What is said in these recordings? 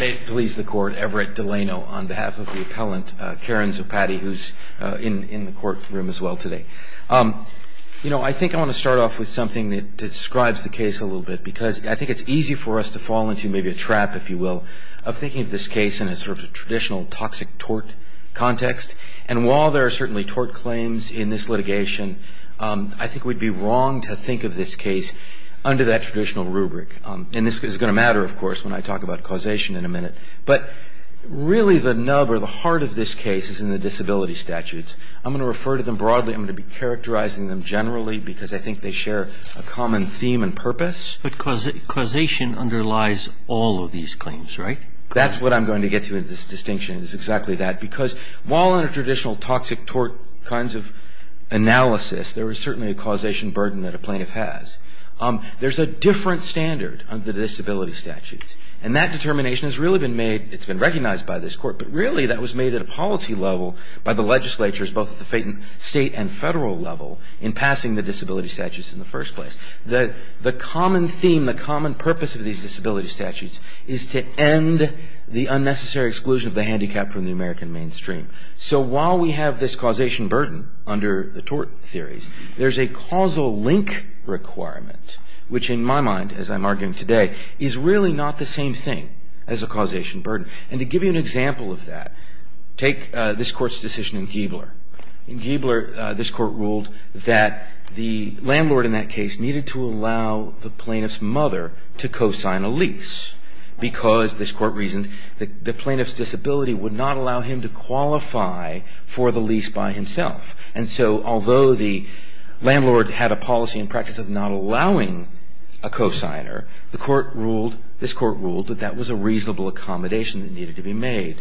May it please the court, Everett Delano on behalf of the appellant, Karan Zopatti, who's in the courtroom as well today. You know, I think I want to start off with something that describes the case a little bit because I think it's easy for us to fall into maybe a trap, if you will, of thinking of this case in a sort of traditional toxic tort context. And while there are certainly tort claims in this litigation, I think we'd be wrong to think of this case under that traditional rubric. And this is going to matter, of course, when I talk about causation in a minute. But really the nub or the heart of this case is in the disability statutes. I'm going to refer to them broadly. I'm going to be characterizing them generally because I think they share a common theme and purpose. But causation underlies all of these claims, right? That's what I'm going to get to in this distinction is exactly that. Because while in a traditional toxic tort kinds of analysis, there is certainly a causation burden that a plaintiff has. There's a different standard under the disability statutes. And that determination has really been made. It's been recognized by this court. But really that was made at a policy level by the legislatures, both at the state and federal level, in passing the disability statutes in the first place. The common theme, the common purpose of these disability statutes is to end the unnecessary exclusion of the handicapped from the American mainstream. So while we have this causation burden under the tort theories, there's a causal link requirement, which in my mind, as I'm arguing today, is really not the same thing as a causation burden. And to give you an example of that, take this court's decision in Giebler. In Giebler, this court ruled that the landlord in that case needed to allow the plaintiff's mother to co-sign a lease. Because, this court reasoned, the plaintiff's disability would not allow him to qualify for the lease by himself. And so although the landlord had a policy and practice of not allowing a co-signer, this court ruled that that was a reasonable accommodation that needed to be made.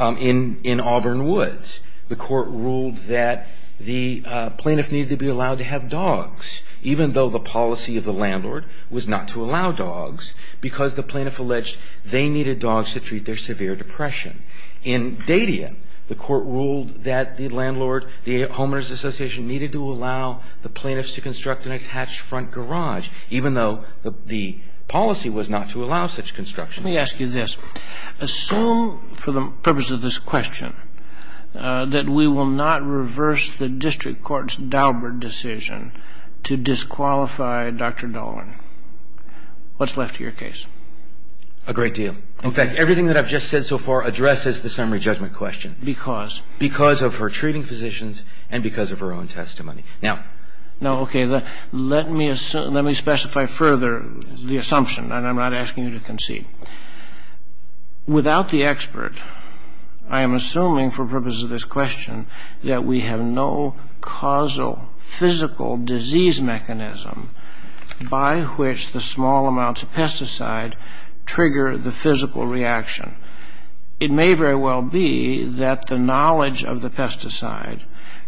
In Auburn Woods, the court ruled that the plaintiff needed to be allowed to have dogs, even though the policy of the landlord was not to allow dogs, because the plaintiff alleged they needed dogs to treat their severe depression. In Dadian, the court ruled that the landlord, the homeowners association, needed to allow the plaintiffs to construct an attached front garage, even though the policy was not to allow such construction. Let me ask you this. Assume, for the purpose of this question, that we will not reverse the district court's Daubert decision to disqualify Dr. Dahlgren. What's left of your case? A great deal. In fact, everything that I've just said so far addresses the summary judgment question. Because? Because of her treating physicians and because of her own testimony. Now, okay, let me specify further the assumption, and I'm not asking you to concede. Without the expert, I am assuming, for the purpose of this question, that we have no causal, physical disease mechanism by which the small amounts of pesticide trigger the physical reaction. It may very well be that the knowledge of the pesticide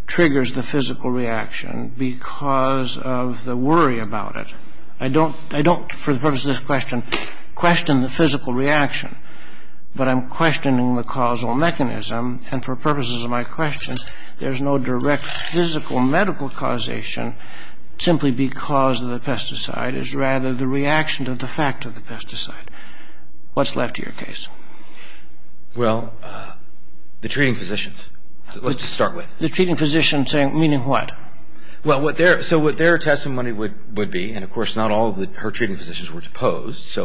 triggers the physical reaction because of the worry about it. I don't, for the purpose of this question, question the physical reaction, but I'm questioning the causal mechanism, and for purposes of my question, there's no direct physical medical causation simply because of the pesticide. It's rather the reaction to the fact of the pesticide. What's left of your case? Well, the treating physicians. Let's just start with. The treating physicians saying meaning what? So what their testimony would be, and of course not all of her treating physicians were deposed,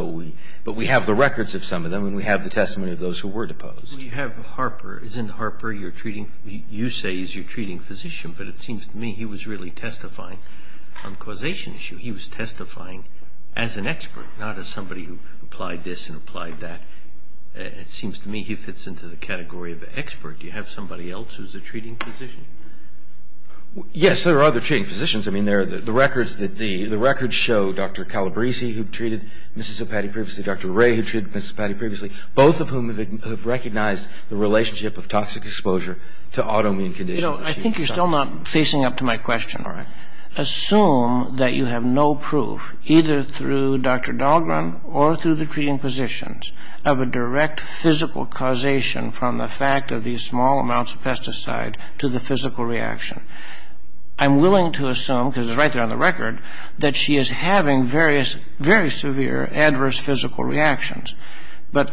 but we have the records of some of them, and we have the testimony of those who were deposed. You have Harper. Isn't Harper, you say, your treating physician, but it seems to me he was really testifying on causation issue. He was testifying as an expert, not as somebody who applied this and applied that. It seems to me he fits into the category of expert. Do you have somebody else who's a treating physician? Yes, there are other treating physicians. I mean, the records show Dr. Calabresi, who treated Mrs. Zopatti previously, Dr. Ray, who treated Mrs. Zopatti previously, both of whom have recognized the relationship of toxic exposure to autoimmune conditions. You know, I think you're still not facing up to my question. Assume that you have no proof either through Dr. Dahlgren or through the treating physicians of a direct physical causation from the fact of these small amounts of pesticide to the physical reaction. I'm willing to assume, because it's right there on the record, that she is having various, very severe adverse physical reactions. But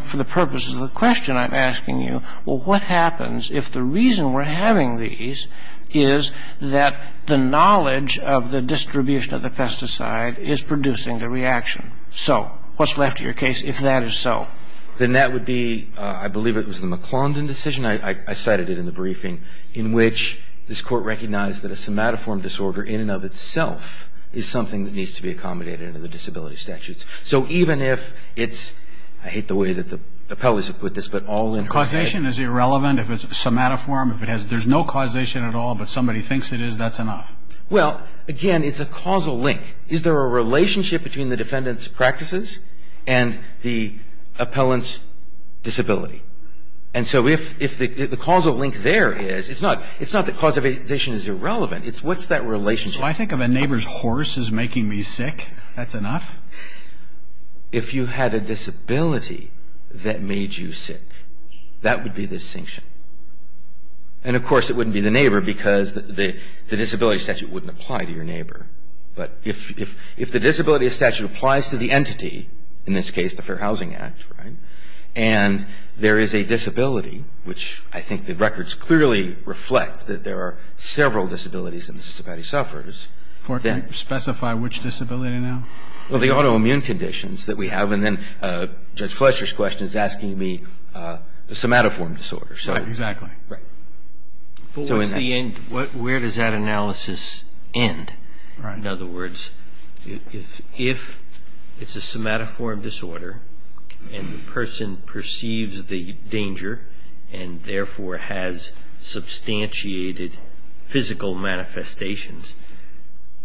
for the purposes of the question I'm asking you, well, what happens if the reason we're having these is that the knowledge of the distribution of the pesticide is producing the reaction? So what's left of your case if that is so? Then that would be, I believe it was the McClondon decision, I cited it in the briefing, in which this Court recognized that a somatoform disorder in and of itself is something that needs to be accommodated under the disability statutes. So even if it's, I hate the way that the appellees have put this, but all in... Causation is irrelevant if it's somatoform. If there's no causation at all but somebody thinks it is, that's enough. Well, again, it's a causal link. Is there a relationship between the defendant's practices and the appellant's disability? And so if the causal link there is, it's not that causation is irrelevant. It's what's that relationship? So I think if a neighbor's horse is making me sick, that's enough? If you had a disability that made you sick, that would be the distinction. And, of course, it wouldn't be the neighbor because the disability statute wouldn't apply to your neighbor. But if the disability statute applies to the entity, in this case the Fair Housing Act, right, and there is a disability, which I think the records clearly reflect that there are several disabilities that Mississippati suffers, then... Can you specify which disability now? Well, the autoimmune conditions that we have, and then Judge Fletcher's question is asking me the somatoform disorder. Right, exactly. But where does that analysis end? In other words, if it's a somatoform disorder and the person perceives the danger and therefore has substantiated physical manifestations,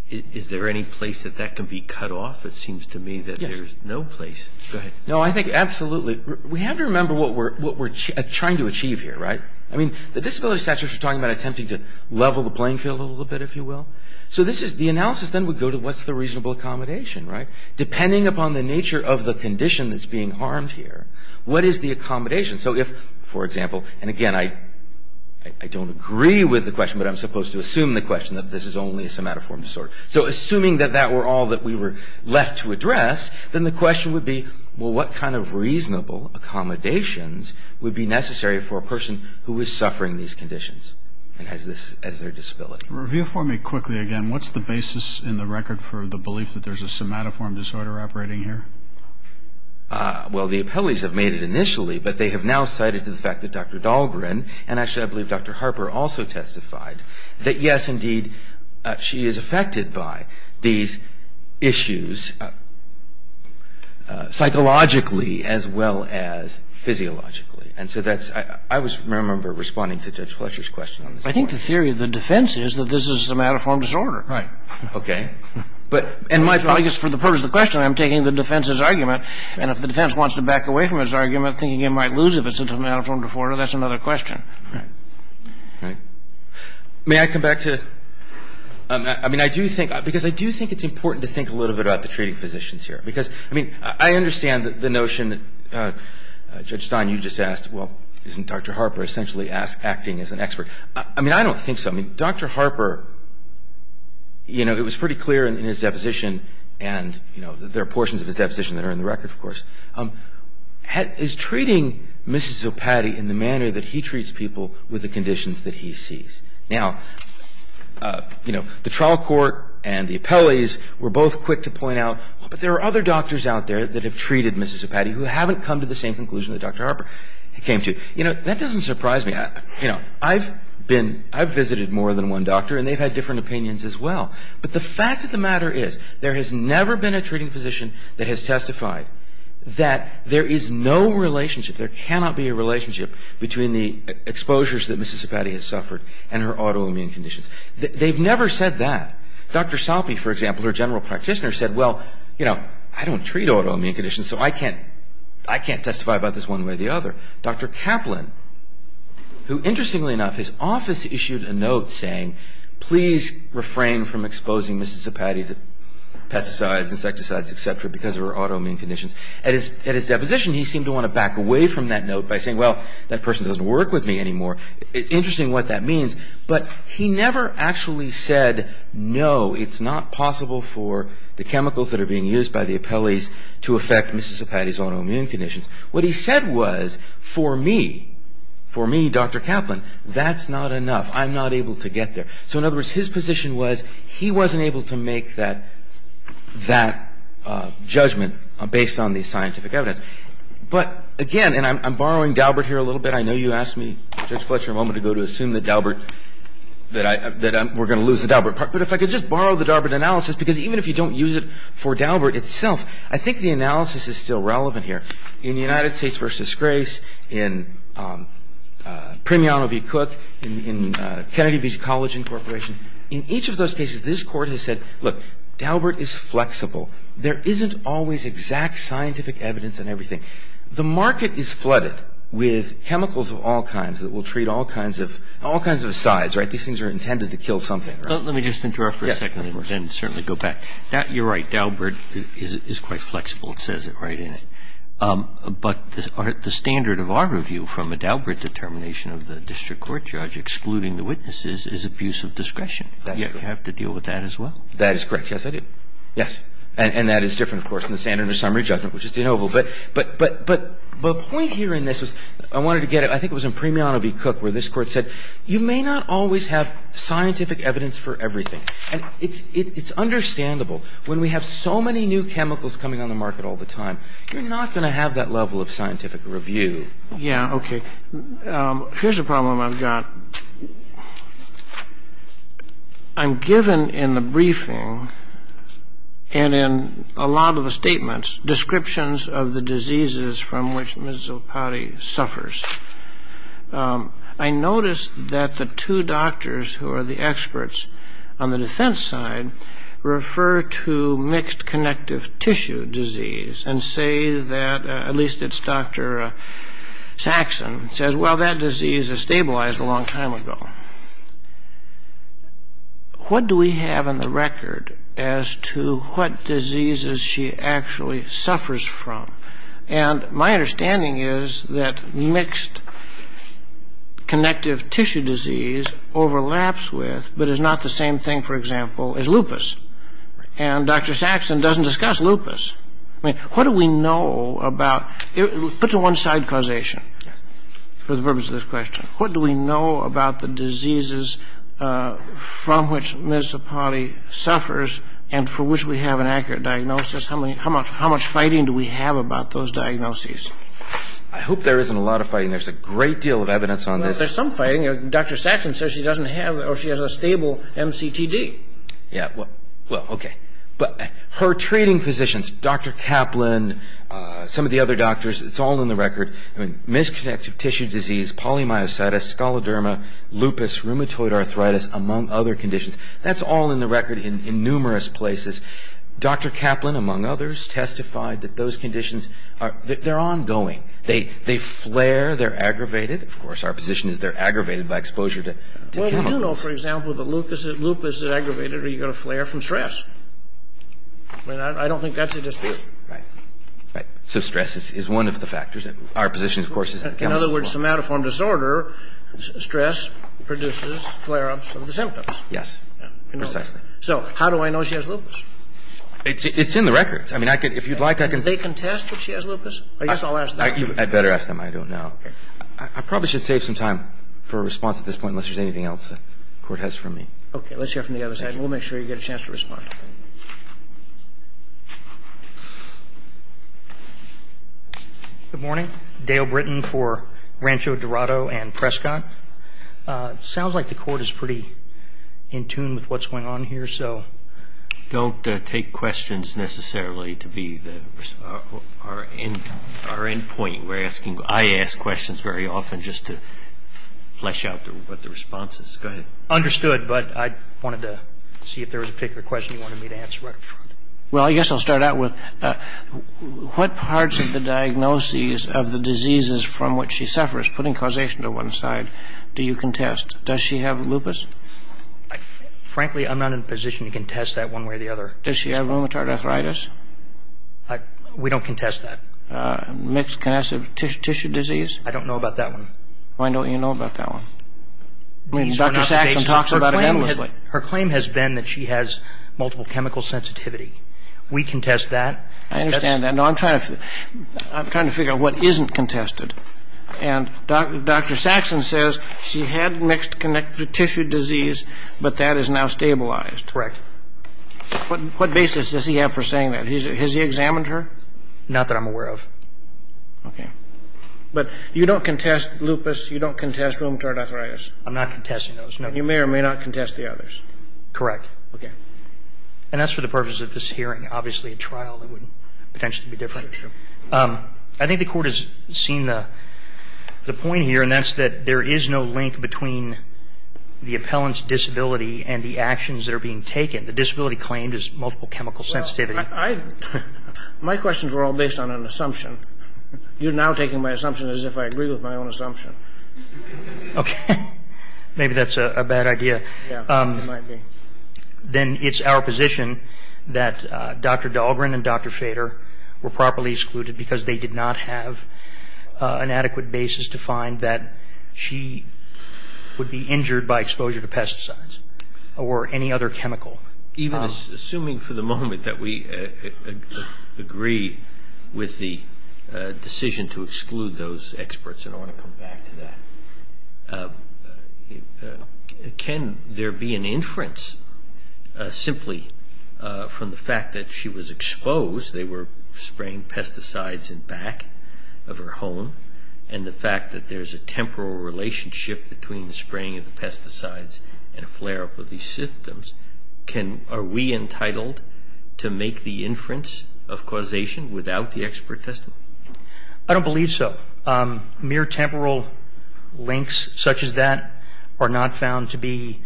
is there any place that that can be cut off? It seems to me that there's no place. Go ahead. No, I think absolutely. We have to remember what we're trying to achieve here, right? I mean, the disability statute is talking about attempting to level the playing field a little bit, if you will. So the analysis then would go to what's the reasonable accommodation, right? Depending upon the nature of the condition that's being harmed here, what is the accommodation? So if, for example, and again, I don't agree with the question, but I'm supposed to assume the question that this is only a somatoform disorder. So assuming that that were all that we were left to address, then the question would be, well, what kind of reasonable accommodations would be necessary for a person who is suffering these conditions and has this as their disability? Review for me quickly again. What's the basis in the record for the belief that there's a somatoform disorder operating here? Well, the appellees have made it initially, but they have now cited the fact that Dr. Dahlgren, and actually I believe Dr. Harper also testified, that yes, indeed, she is affected by these issues psychologically as well as physiologically. And so that's, I remember responding to Judge Fletcher's question on this point. I think the theory of the defense is that this is a somatoform disorder. Right. Okay. I guess for the purpose of the question, I'm taking the defense's argument. And if the defense wants to back away from his argument, thinking it might lose if it's a somatoform disorder, that's another question. Right. May I come back to, I mean, I do think, because I do think it's important to think a little bit about the treating physicians here. Because, I mean, I understand the notion, Judge Stein, you just asked, well, isn't Dr. Harper essentially acting as an expert? I mean, I don't think so. I mean, Dr. Harper, you know, it was pretty clear in his deposition, and, you know, there are portions of his deposition that are in the record, of course. But the question is, is treating Mrs. Zopatti in the manner that he treats people with the conditions that he sees? Now, you know, the trial court and the appellees were both quick to point out, well, but there are other doctors out there that have treated Mrs. Zopatti who haven't come to the same conclusion that Dr. Harper came to. You know, that doesn't surprise me. You know, I've been – I've visited more than one doctor, and they've had different opinions as well. But the fact of the matter is, there has never been a treating physician that has testified that there is no relationship, there cannot be a relationship between the exposures that Mrs. Zopatti has suffered and her autoimmune conditions. They've never said that. Dr. Salpi, for example, her general practitioner, said, well, you know, I don't treat autoimmune conditions, so I can't testify about this one way or the other. Dr. Kaplan, who interestingly enough, his office issued a note saying, please refrain from exposing Mrs. Zopatti to pesticides, insecticides, et cetera, because of her autoimmune conditions. At his deposition, he seemed to want to back away from that note by saying, well, that person doesn't work with me anymore. It's interesting what that means. But he never actually said, no, it's not possible for the chemicals that are being used by the appellees to affect Mrs. Zopatti's autoimmune conditions. What he said was, for me, for me, Dr. Kaplan, that's not enough. I'm not able to get there. So in other words, his position was he wasn't able to make that judgment based on the scientific evidence. But again, and I'm borrowing Daubert here a little bit. I know you asked me, Judge Fletcher, a moment ago to assume that Daubert, that we're going to lose the Daubert part. But if I could just borrow the Daubert analysis, because even if you don't use it for Daubert itself, I think the analysis is still relevant here. In the United States versus Grace, in Primiano v. Cook, in Kennedy v. Collagen Corporation, in each of those cases, this Court has said, look, Daubert is flexible. There isn't always exact scientific evidence in everything. The market is flooded with chemicals of all kinds that will treat all kinds of sides. These things are intended to kill something. Let me just interrupt for a second and then we can certainly go back. You're right. Daubert is quite flexible. It says it right in it. But the standard of our review from a Daubert determination of the district court judge excluding the witnesses is abuse of discretion. You have to deal with that as well. That is correct. Yes, I do. Yes. And that is different, of course, from the standard of summary judgment, which is de novo. But the point here in this is, I wanted to get it, I think it was in Primiano v. Cook, where this Court said, you may not always have scientific evidence for everything. It's understandable. When we have so many new chemicals coming on the market all the time, you're not going to have that level of scientific review. Yes. Okay. Here's a problem I've got. I'm given in the briefing and in a lot of the statements descriptions of the diseases from which Ms. Zilpati suffers. I noticed that the two doctors who are the experts on the defense side refer to mixed connective tissue disease and say that, at least it's Dr. Saxon, says, well, that disease is stabilized a long time ago. What do we have on the record as to what diseases she actually suffers from? And my understanding is that mixed connective tissue disease overlaps with, but is not the same thing, for example, as lupus. And Dr. Saxon doesn't discuss lupus. I mean, what do we know about it? Put to one side causation for the purpose of this question. What do we know about the diseases from which Ms. Zilpati suffers and for which we have an accurate diagnosis? How much fighting do we have about those diagnoses? I hope there isn't a lot of fighting. There's a great deal of evidence on this. There's some fighting. Dr. Saxon says she doesn't have or she has a stable MCTD. Yeah. Well, okay. But her treating physicians, Dr. Kaplan, some of the other doctors, it's all in the record. I mean, mixed connective tissue disease, polymyositis, scoloderma, lupus, rheumatoid arthritis, among other conditions, that's all in the record in numerous places. Dr. Kaplan, among others, testified that those conditions, they're ongoing. They flare, they're aggravated. Of course, our position is they're aggravated by exposure to chemicals. Well, we do know, for example, that lupus is aggravated or you're going to flare from stress. I mean, I don't think that's a dispute. Right. Right. So stress is one of the factors. Our position, of course, is the chemical one. In other words, somatoform disorder, stress produces flare-ups of the symptoms. Yes. Precisely. So how do I know she has lupus? It's in the records. I mean, I could, if you'd like, I could. Do they contest that she has lupus? I guess I'll ask them. I'd better ask them. I don't know. I probably should save some time for a response at this point unless there's anything else the Court has for me. Okay. Let's hear from the other side. We'll make sure you get a chance to respond. Good morning. Dale Britton for Rancho Dorado and Prescott. Sounds like the Court is pretty in tune with what's going on here, so. Don't take questions necessarily to be our end point. We're asking, I ask questions very often just to flesh out what the response is. Go ahead. Understood, but I wanted to see if there was a particular question you wanted me to answer right up front. Well, I guess I'll start out with what parts of the diagnoses of the diseases from which she suffers, putting causation to one side, do you contest? Does she have lupus? Frankly, I'm not in a position to contest that one way or the other. Does she have rheumatoid arthritis? We don't contest that. Mixed connessive tissue disease? I don't know about that one. Why don't you know about that one? Dr. Saxon talks about it endlessly. Her claim has been that she has multiple chemical sensitivity. We contest that. I understand that. No, I'm trying to figure out what isn't contested. And Dr. Saxon says she had mixed connective tissue disease, but that is now stabilized. Correct. What basis does he have for saying that? Has he examined her? Not that I'm aware of. Okay. But you don't contest lupus. You don't contest rheumatoid arthritis. I'm not contesting those. You may or may not contest the others. Correct. Okay. And that's for the purpose of this hearing, obviously a trial that would potentially be different. Sure, sure. I think the court has seen the point here, and that's that there is no link between the appellant's disability and the actions that are being taken. The disability claimed is multiple chemical sensitivity. Well, my questions were all based on an assumption. You're now taking my assumption as if I agree with my own assumption. Okay. Maybe that's a bad idea. Yeah, it might be. Then it's our position that Dr. Dahlgren and Dr. Shader were properly excluded because they did not have an adequate basis to find that she would be injured by exposure to pesticides or any other chemical. Even assuming for the moment that we agree with the decision to exclude those experts, and I want to come back to that. Can there be an inference simply from the fact that she was exposed, they were spraying pesticides in back of her home, and the fact that there's a temporal relationship between the spraying of the pesticides and a flare-up of these symptoms, are we entitled to make the inference of causation without the expert testimony? I don't believe so. Mere temporal links such as that are not found to be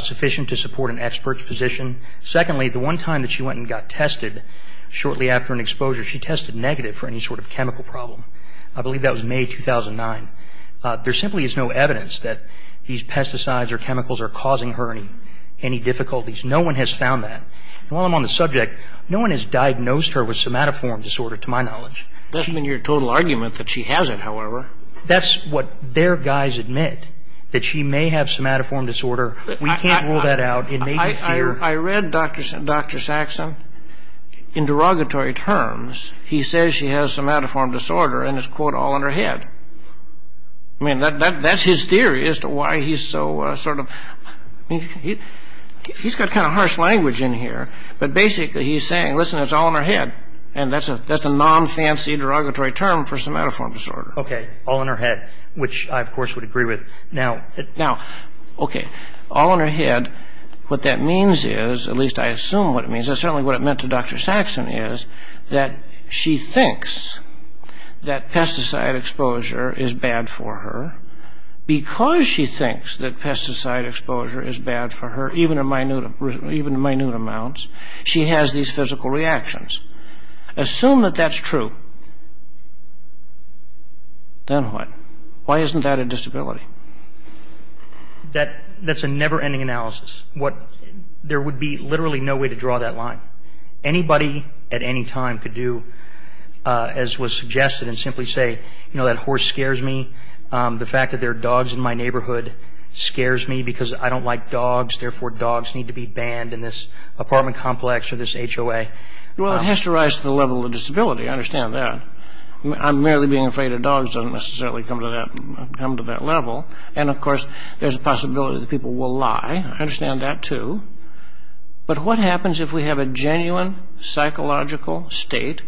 sufficient to support an expert's position. Secondly, the one time that she went and got tested shortly after an exposure, she tested negative for any sort of chemical problem. I believe that was May 2009. There simply is no evidence that these pesticides or chemicals are causing her any difficulties. No one has found that. While I'm on the subject, no one has diagnosed her with somatoform disorder to my knowledge. It doesn't mean you're in total argument that she has it, however. That's what their guys admit, that she may have somatoform disorder. We can't rule that out. I read Dr. Saxon. In derogatory terms, he says she has somatoform disorder and it's, quote, all in her head. I mean, that's his theory as to why he's so sort of, he's got kind of harsh language in here, but basically he's saying, listen, it's all in her head, and that's a non-fancy derogatory term for somatoform disorder. Okay, all in her head, which I, of course, would agree with. Now, okay, all in her head, what that means is, at least I assume what it means, certainly what it meant to Dr. Saxon is that she thinks that pesticide exposure is bad for her. Because she thinks that pesticide exposure is bad for her, even in minute amounts, she has these physical reactions. Assume that that's true, then what? Why isn't that a disability? That's a never-ending analysis. There would be literally no way to draw that line. Anybody at any time could do, as was suggested and simply say, you know, that horse scares me, the fact that there are dogs in my neighborhood scares me because I don't like dogs, therefore dogs need to be banned in this apartment complex or this HOA. Well, it has to rise to the level of disability. I understand that. I'm merely being afraid that dogs don't necessarily come to that level. And, of course, there's a possibility that people will lie. I understand that, too. But what happens if we have a genuine psychological state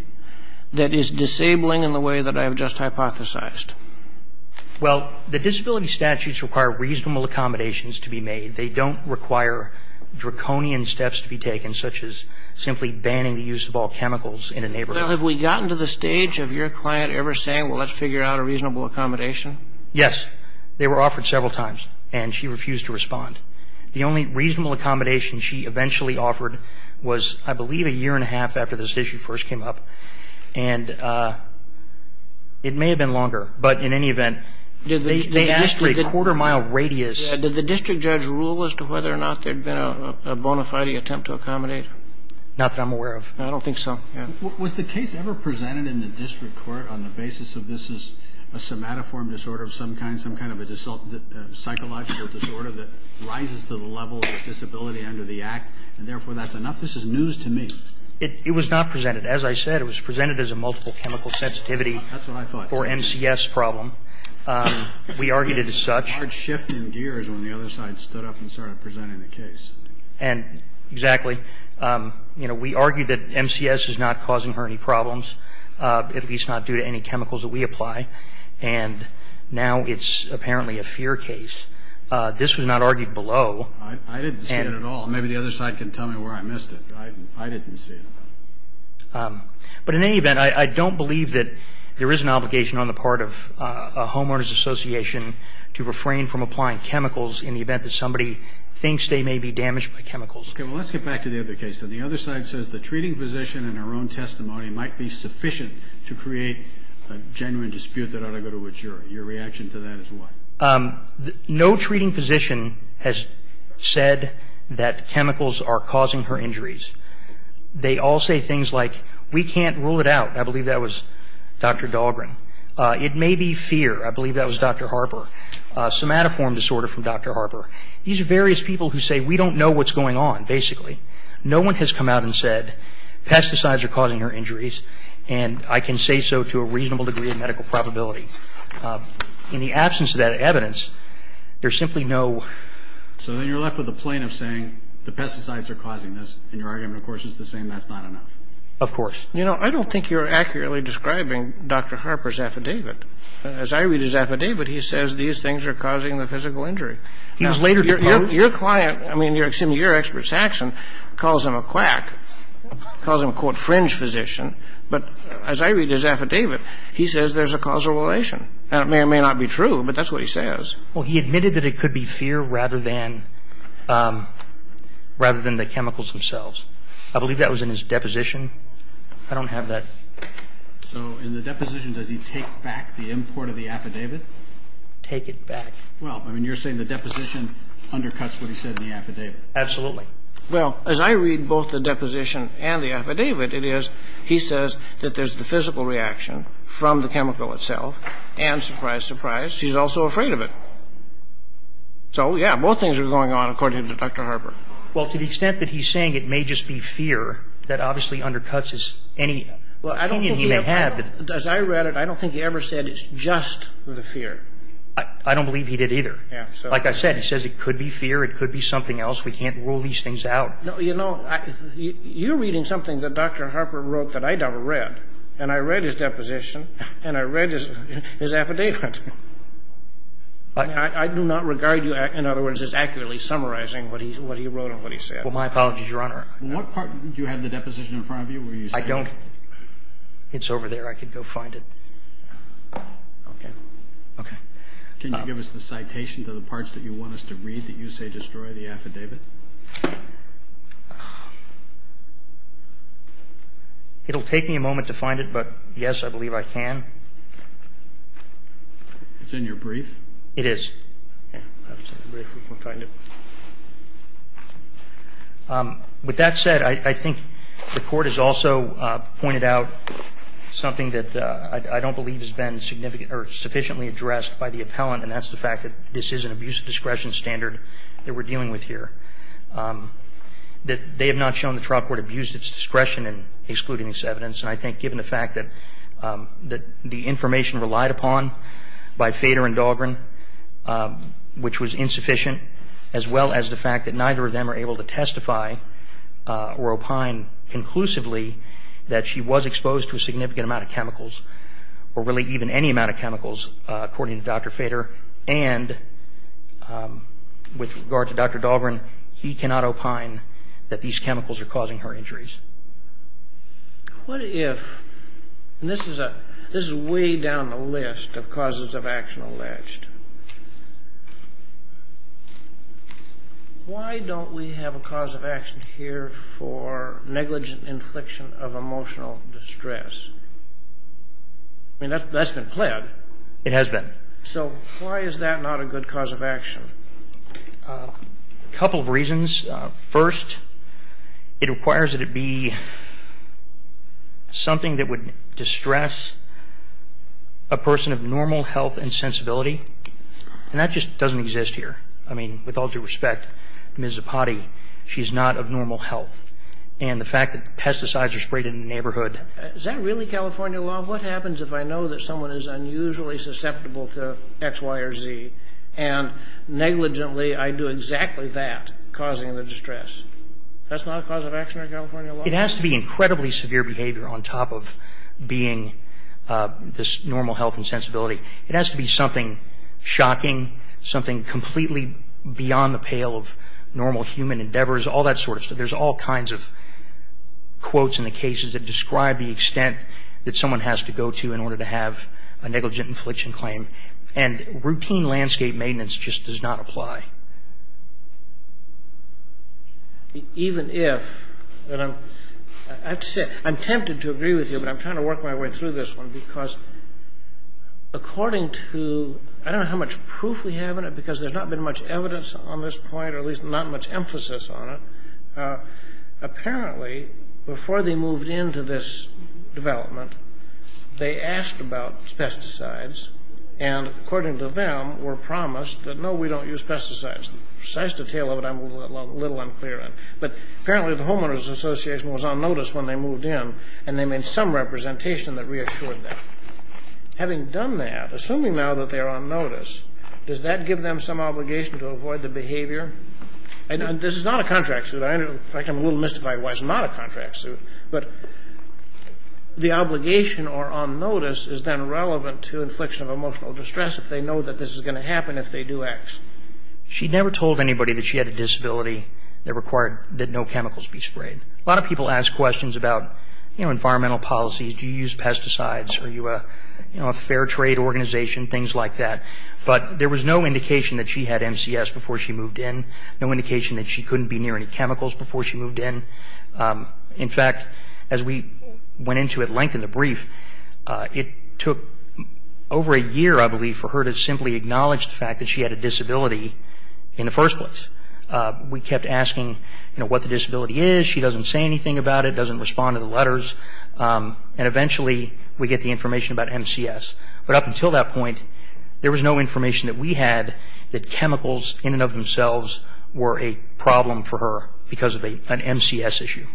that is disabling in the way that I have just hypothesized? Well, the disability statutes require reasonable accommodations to be made. They don't require draconian steps to be taken, such as simply banning the use of all chemicals in a neighborhood. Well, have we gotten to the stage of your client ever saying, well, let's figure out a reasonable accommodation? Yes. They were offered several times, and she refused to respond. The only reasonable accommodation she eventually offered was, I believe, a year and a half after this issue first came up. And it may have been longer, but in any event, they asked for a quarter-mile radius. Did the district judge rule as to whether or not there had been a bona fide attempt to accommodate? Not that I'm aware of. I don't think so. Was the case ever presented in the district court on the basis of this is a somatoform disorder of some kind, some kind of a psychological disorder that rises to the level of disability under the Act, and therefore that's enough? This is news to me. It was not presented. As I said, it was presented as a multiple chemical sensitivity or NCS problem. We argued it as such. There was a large shift in gears when the other side stood up and started presenting the case. Exactly. We argued that MCS is not causing her any problems, at least not due to any chemicals that we apply, and now it's apparently a fear case. This was not argued below. I didn't see it at all. Maybe the other side can tell me where I missed it. I didn't see it. But in any event, I don't believe that there is an obligation on the part of a homeowners association to refrain from applying chemicals in the event that somebody thinks they may be damaged by chemicals. Okay. Well, let's get back to the other case. Then the other side says the treating physician in her own testimony might be sufficient to create a genuine dispute that ought to go to a jury. Your reaction to that is what? No treating physician has said that chemicals are causing her injuries. They all say things like, we can't rule it out. I believe that was Dr. Dahlgren. It may be fear. I believe that was Dr. Harper. Somatoform disorder from Dr. Harper. These are various people who say we don't know what's going on, basically. No one has come out and said pesticides are causing her injuries, and I can say so to a reasonable degree of medical probability. In the absence of that evidence, there's simply no... So then you're left with a plane of saying the pesticides are causing this, and your argument, of course, is the same, that's not enough. Of course. You know, I don't think you're accurately describing Dr. Harper's affidavit. As I read his affidavit, he says these things are causing the physical injury. He was later deposed. Your client, I mean, your expert's action calls him a quack, calls him a, quote, fringe physician, but as I read his affidavit, he says there's a causal relation. And it may or may not be true, but that's what he says. Well, he admitted that it could be fear rather than the chemicals themselves. I believe that was in his deposition. I don't have that. So in the deposition, does he take back the import of the affidavit? Take it back. Well, I mean, you're saying the deposition undercuts what he said in the affidavit. Absolutely. Well, as I read both the deposition and the affidavit, it is he says that there's the physical reaction from the chemical itself, and surprise, surprise, he's also afraid of it. So, yeah, both things are going on according to Dr. Harper. Well, to the extent that he's saying it may just be fear, that obviously undercuts any opinion he may have. As I read it, I don't think he ever said it's just the fear. I don't believe he did either. Like I said, he says it could be fear, it could be something else. We can't rule these things out. No, you know, you're reading something that Dr. Harper wrote that I never read, and I read his deposition and I read his affidavit. I do not regard you, in other words, as accurately summarizing what he wrote and what he said. Well, my apologies, Your Honor. What part do you have the deposition in front of you where you say? I don't. It's over there. I could go find it. Okay. Okay. Can you give us the citation to the parts that you want us to read that you say destroy the affidavit? It'll take me a moment to find it, but, yes, I believe I can. It's in your brief? It is. Okay. With that said, I think the Court has also pointed out something that I don't believe has been significant or sufficiently addressed by the appellant, and that's the fact that this is an abuse of discretion standard that we're dealing with here. They have not shown the trial court abuse of discretion in excluding this evidence, and I think given the fact that the information relied upon by Fader and Dahlgren, which was insufficient, as well as the fact that neither of them are able to testify or opine conclusively that she was exposed to a significant amount of chemicals, or really even any amount of chemicals, according to Dr. Fader, and with regard to Dr. Dahlgren, he cannot opine that these chemicals are causing her injuries. What if, and this is way down the list of causes of action alleged, why don't we have a cause of action here for negligent infliction of emotional distress? I mean, that's been pled. It has been. So why is that not a good cause of action? A couple of reasons. First, it requires that it be something that would distress a person of normal health and sensibility, and that just doesn't exist here. I mean, with all due respect, Ms. Zapati, she's not of normal health, and the fact that pesticides are sprayed in the neighborhood. Is that really California law? Well, what happens if I know that someone is unusually susceptible to X, Y, or Z, and negligently I do exactly that, causing the distress? That's not a cause of action in California law? It has to be incredibly severe behavior on top of being this normal health and sensibility. It has to be something shocking, something completely beyond the pale of normal human endeavors, all that sort of stuff. There's all kinds of quotes in the cases that describe the extent that someone has to go to in order to have a negligent infliction claim, and routine landscape maintenance just does not apply. Even if, and I have to say, I'm tempted to agree with you, but I'm trying to work my way through this one because according to, I don't know how much proof we have in it because there's not been much evidence on this point, or at least not much emphasis on it. Apparently, before they moved into this development, they asked about pesticides, and according to them were promised that, no, we don't use pesticides. The precise detail of it I'm a little unclear on, but apparently the Homeowners Association was on notice when they moved in, and they made some representation that reassured them. Having done that, assuming now that they are on notice, does that give them some obligation to avoid the behavior? This is not a contract suit. In fact, I'm a little mystified why it's not a contract suit, but the obligation or on notice is then relevant to infliction of emotional distress if they know that this is going to happen if they do X. She never told anybody that she had a disability that required that no chemicals be sprayed. A lot of people ask questions about environmental policies. Do you use pesticides? Are you a fair trade organization? Things like that. But there was no indication that she had MCS before she moved in, no indication that she couldn't be near any chemicals before she moved in. In fact, as we went into it, lengthened the brief, it took over a year, I believe, for her to simply acknowledge the fact that she had a disability in the first place. We kept asking what the disability is. She doesn't say anything about it, doesn't respond to the letters, and eventually we get the information about MCS. But up until that point, there was no information that we had that chemicals in and of themselves were a problem for her because of an MCS issue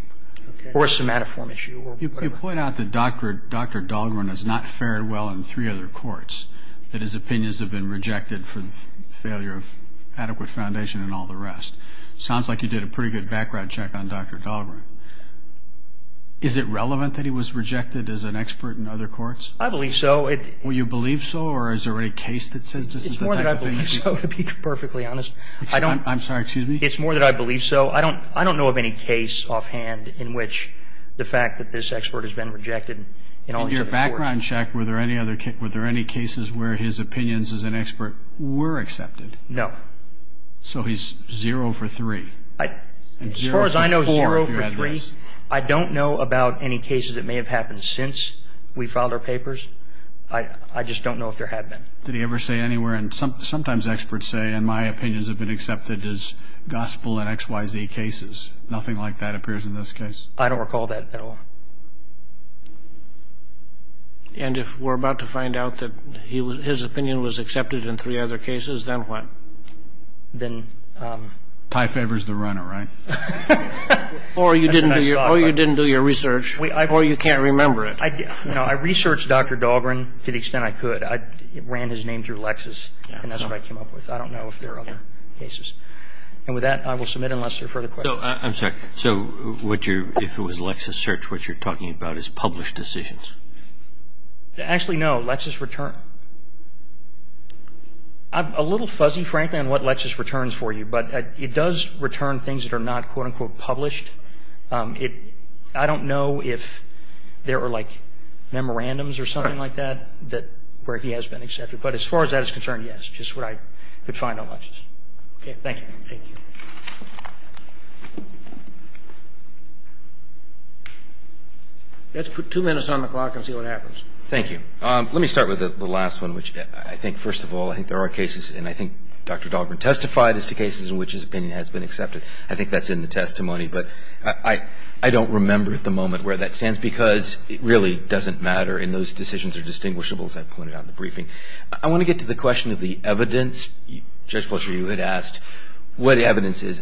or a somatoform issue or whatever. You point out that Dr. Dahlgren has not fared well in three other courts, that his opinions have been rejected for the failure of adequate foundation and all the rest. Sounds like you did a pretty good background check on Dr. Dahlgren. Is it relevant that he was rejected as an expert in other courts? I believe so. Well, you believe so, or is there any case that says this is the type of thing you do? It's more that I believe so, to be perfectly honest. I'm sorry, excuse me? It's more that I believe so. I don't know of any case offhand in which the fact that this expert has been rejected. In your background check, were there any cases where his opinions as an expert were accepted? No. So he's zero for three. As far as I know, zero for three. I don't know about any cases that may have happened since we filed our papers. I just don't know if there have been. Did he ever say anywhere, and sometimes experts say, and my opinions have been accepted as gospel and X, Y, Z cases. Nothing like that appears in this case. I don't recall that at all. And if we're about to find out that his opinion was accepted in three other cases, then what? Tie favors the runner, right? Or you didn't do your research, or you can't remember it. I researched Dr. Dahlgren to the extent I could. I ran his name through Lexis, and that's what I came up with. I don't know if there are other cases. And with that, I will submit unless there are further questions. I'm sorry. So if it was LexisSearch, what you're talking about is published decisions? Actually, no. LexisReturn. I'm a little fuzzy, frankly, on what LexisReturns for you, but it does return things that are not, quote, unquote, published. I don't know if there were, like, memorandums or something like that where he has been accepted. But as far as that is concerned, yes, just what I could find on Lexis. Okay, thank you. Thank you. Let's put two minutes on the clock and see what happens. Thank you. Let me start with the last one, which I think, first of all, I think there are cases, and I think Dr. Dahlgren testified as to cases in which his opinion has been accepted. I think that's in the testimony, but I don't remember at the moment where that stands because it really doesn't matter and those decisions are distinguishable, as I pointed out in the briefing. I want to get to the question of the evidence. Judge Fletcher, you had asked what evidence is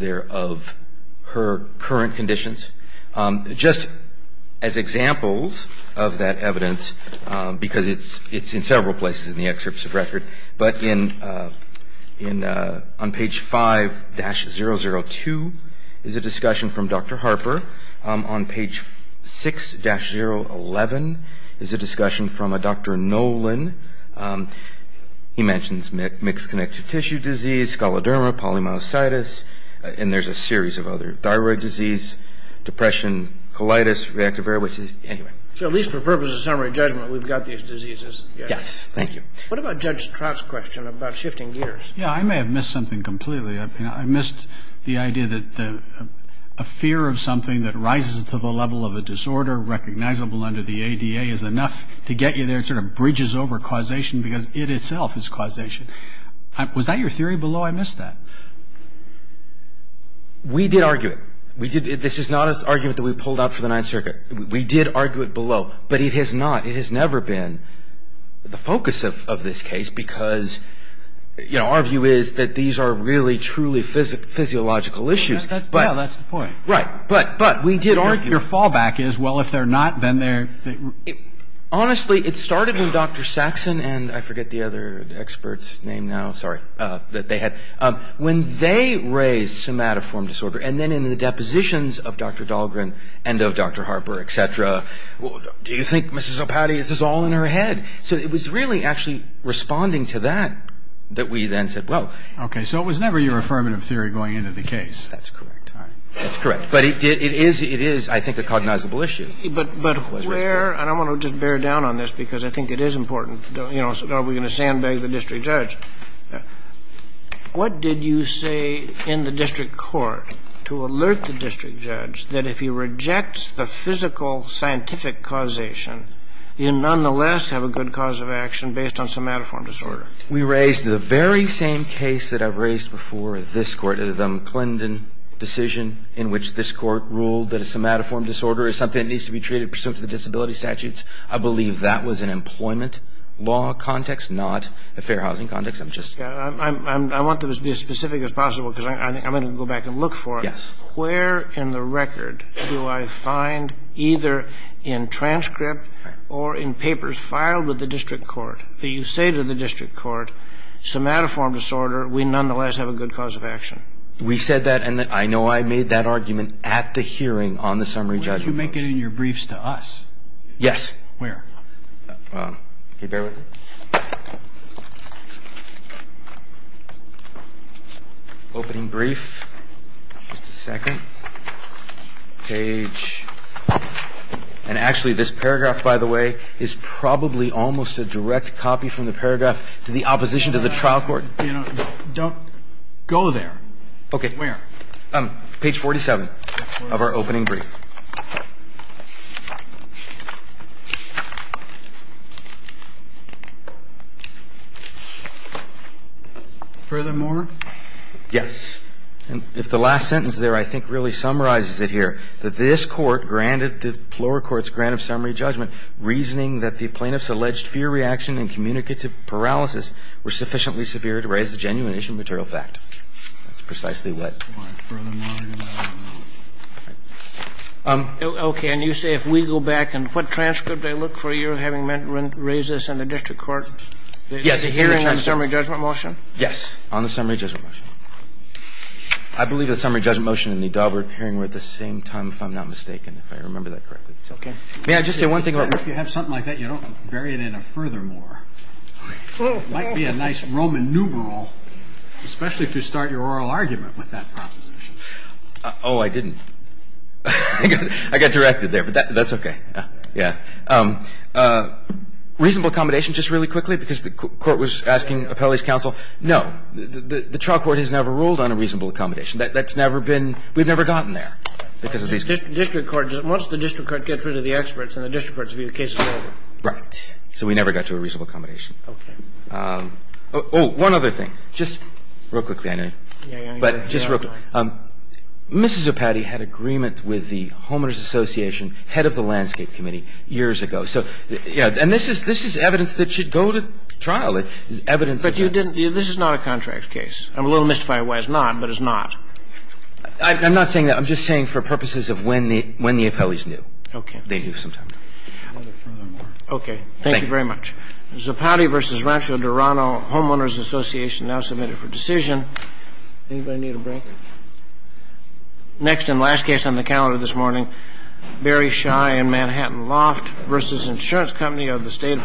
there of her current conditions. Just as examples of that evidence, because it's in several places in the excerpts of record, but on page 5-002 is a discussion from Dr. Harper. On page 6-011 is a discussion from a Dr. Nolan. He mentions mixed connective tissue disease, scoloderma, polymyositis, and there's a series of other thyroid disease, depression, colitis, reactive airway disease. So at least for purposes of summary judgment, we've got these diseases. Yes, thank you. What about Judge Stroud's question about shifting gears? Yeah, I may have missed something completely. I missed the idea that a fear of something that rises to the level of a disorder recognizable under the ADA is enough to get you there, sort of bridges over causation because it itself is causation. Was that your theory below? I missed that. We did argue it. This is not an argument that we pulled out for the Ninth Circuit. We did argue it below, but it has not, it has never been. The focus of this case, because our view is that these are really, truly physiological issues. Yeah, that's the point. Right, but we did argue. Your fallback is, well, if they're not, then they're... Honestly, it started when Dr. Saxon and I forget the other expert's name now, sorry, that they had, when they raised somatoform disorder and then in the depositions of Dr. Dahlgren and of Dr. Harper, et cetera, well, do you think, Mrs. O'Patty, this is all in her head? So it was really actually responding to that that we then said, well... Okay. So it was never your affirmative theory going into the case. That's correct. All right. That's correct. But it is, I think, a cognizable issue. But where, and I want to just bear down on this because I think it is important. You know, are we going to sandbag the district judge? What did you say in the district court to alert the district judge that if he rejects the physical scientific causation, you nonetheless have a good cause of action based on somatoform disorder? We raised the very same case that I've raised before with this Court, the McClendon decision in which this Court ruled that a somatoform disorder is something that needs to be treated pursuant to the disability statutes. I believe that was an employment law context, not a fair housing context. I'm just... I want this to be as specific as possible because I'm going to go back and look for it. Yes. Where in the record do I find either in transcript or in papers filed with the district court that you say to the district court, somatoform disorder, we nonetheless have a good cause of action? We said that, and I know I made that argument at the hearing on the summary judgment. Where did you make it in your briefs to us? Yes. Where? Can you bear with me? Opening brief. Just a second. Page... And actually, this paragraph, by the way, is probably almost a direct copy from the paragraph to the opposition to the trial court. Don't go there. Okay. Where? Page 47 of our opening brief. Furthermore? Yes. If the last sentence there I think really summarizes it here, that this court granted the lower court's grant of summary judgment reasoning that the plaintiff's alleged fear reaction and communicative paralysis were sufficiently severe to raise the genuine issue of material fact. That's precisely what... All right. Furthermore... Okay. And you say if we go back, and what transcript I look for you having raised this in the district court? Yes. The hearing on summary judgment motion? Yes. On the summary judgment motion. I believe the summary judgment motion in the Daubert hearing were at the same time, if I'm not mistaken, if I remember that correctly. Okay. May I just say one thing about... If you have something like that, you don't bury it in a furthermore. It might be a nice Roman nuberal, especially if you start your oral argument with that proposition. Oh, I didn't. I got directed there, but that's okay. Yeah. Reasonable accommodation, just really quickly, because the court was asking appellees' counsel. No. The trial court has never ruled on a reasonable accommodation. That's never been... We've never gotten there because of these... District court... Once the district court gets rid of the experts and the district court's view, the case is over. Right. So we never got to a reasonable accommodation. Okay. Oh, one other thing. Just real quickly, I know. Yeah, yeah. But just real quickly, Mrs. Zopati had agreement with the Homeowners Association head of the Landscape Committee years ago. So, yeah, and this is evidence that should go to trial, evidence of that. But you didn't... This is not a contract case. I'm a little mystified why it's not, but it's not. I'm not saying that. I'm just saying for purposes of when the appellees knew. Okay. They knew sometimes. Okay. Thank you very much. Zopati v. Rancho Dorano, Homeowners Association now submitted for decision. Anybody need a break? Next and last case on the calendar this morning, Barry Schei and Manhattan Loft v. Insurance Company of the State of Pennsylvania.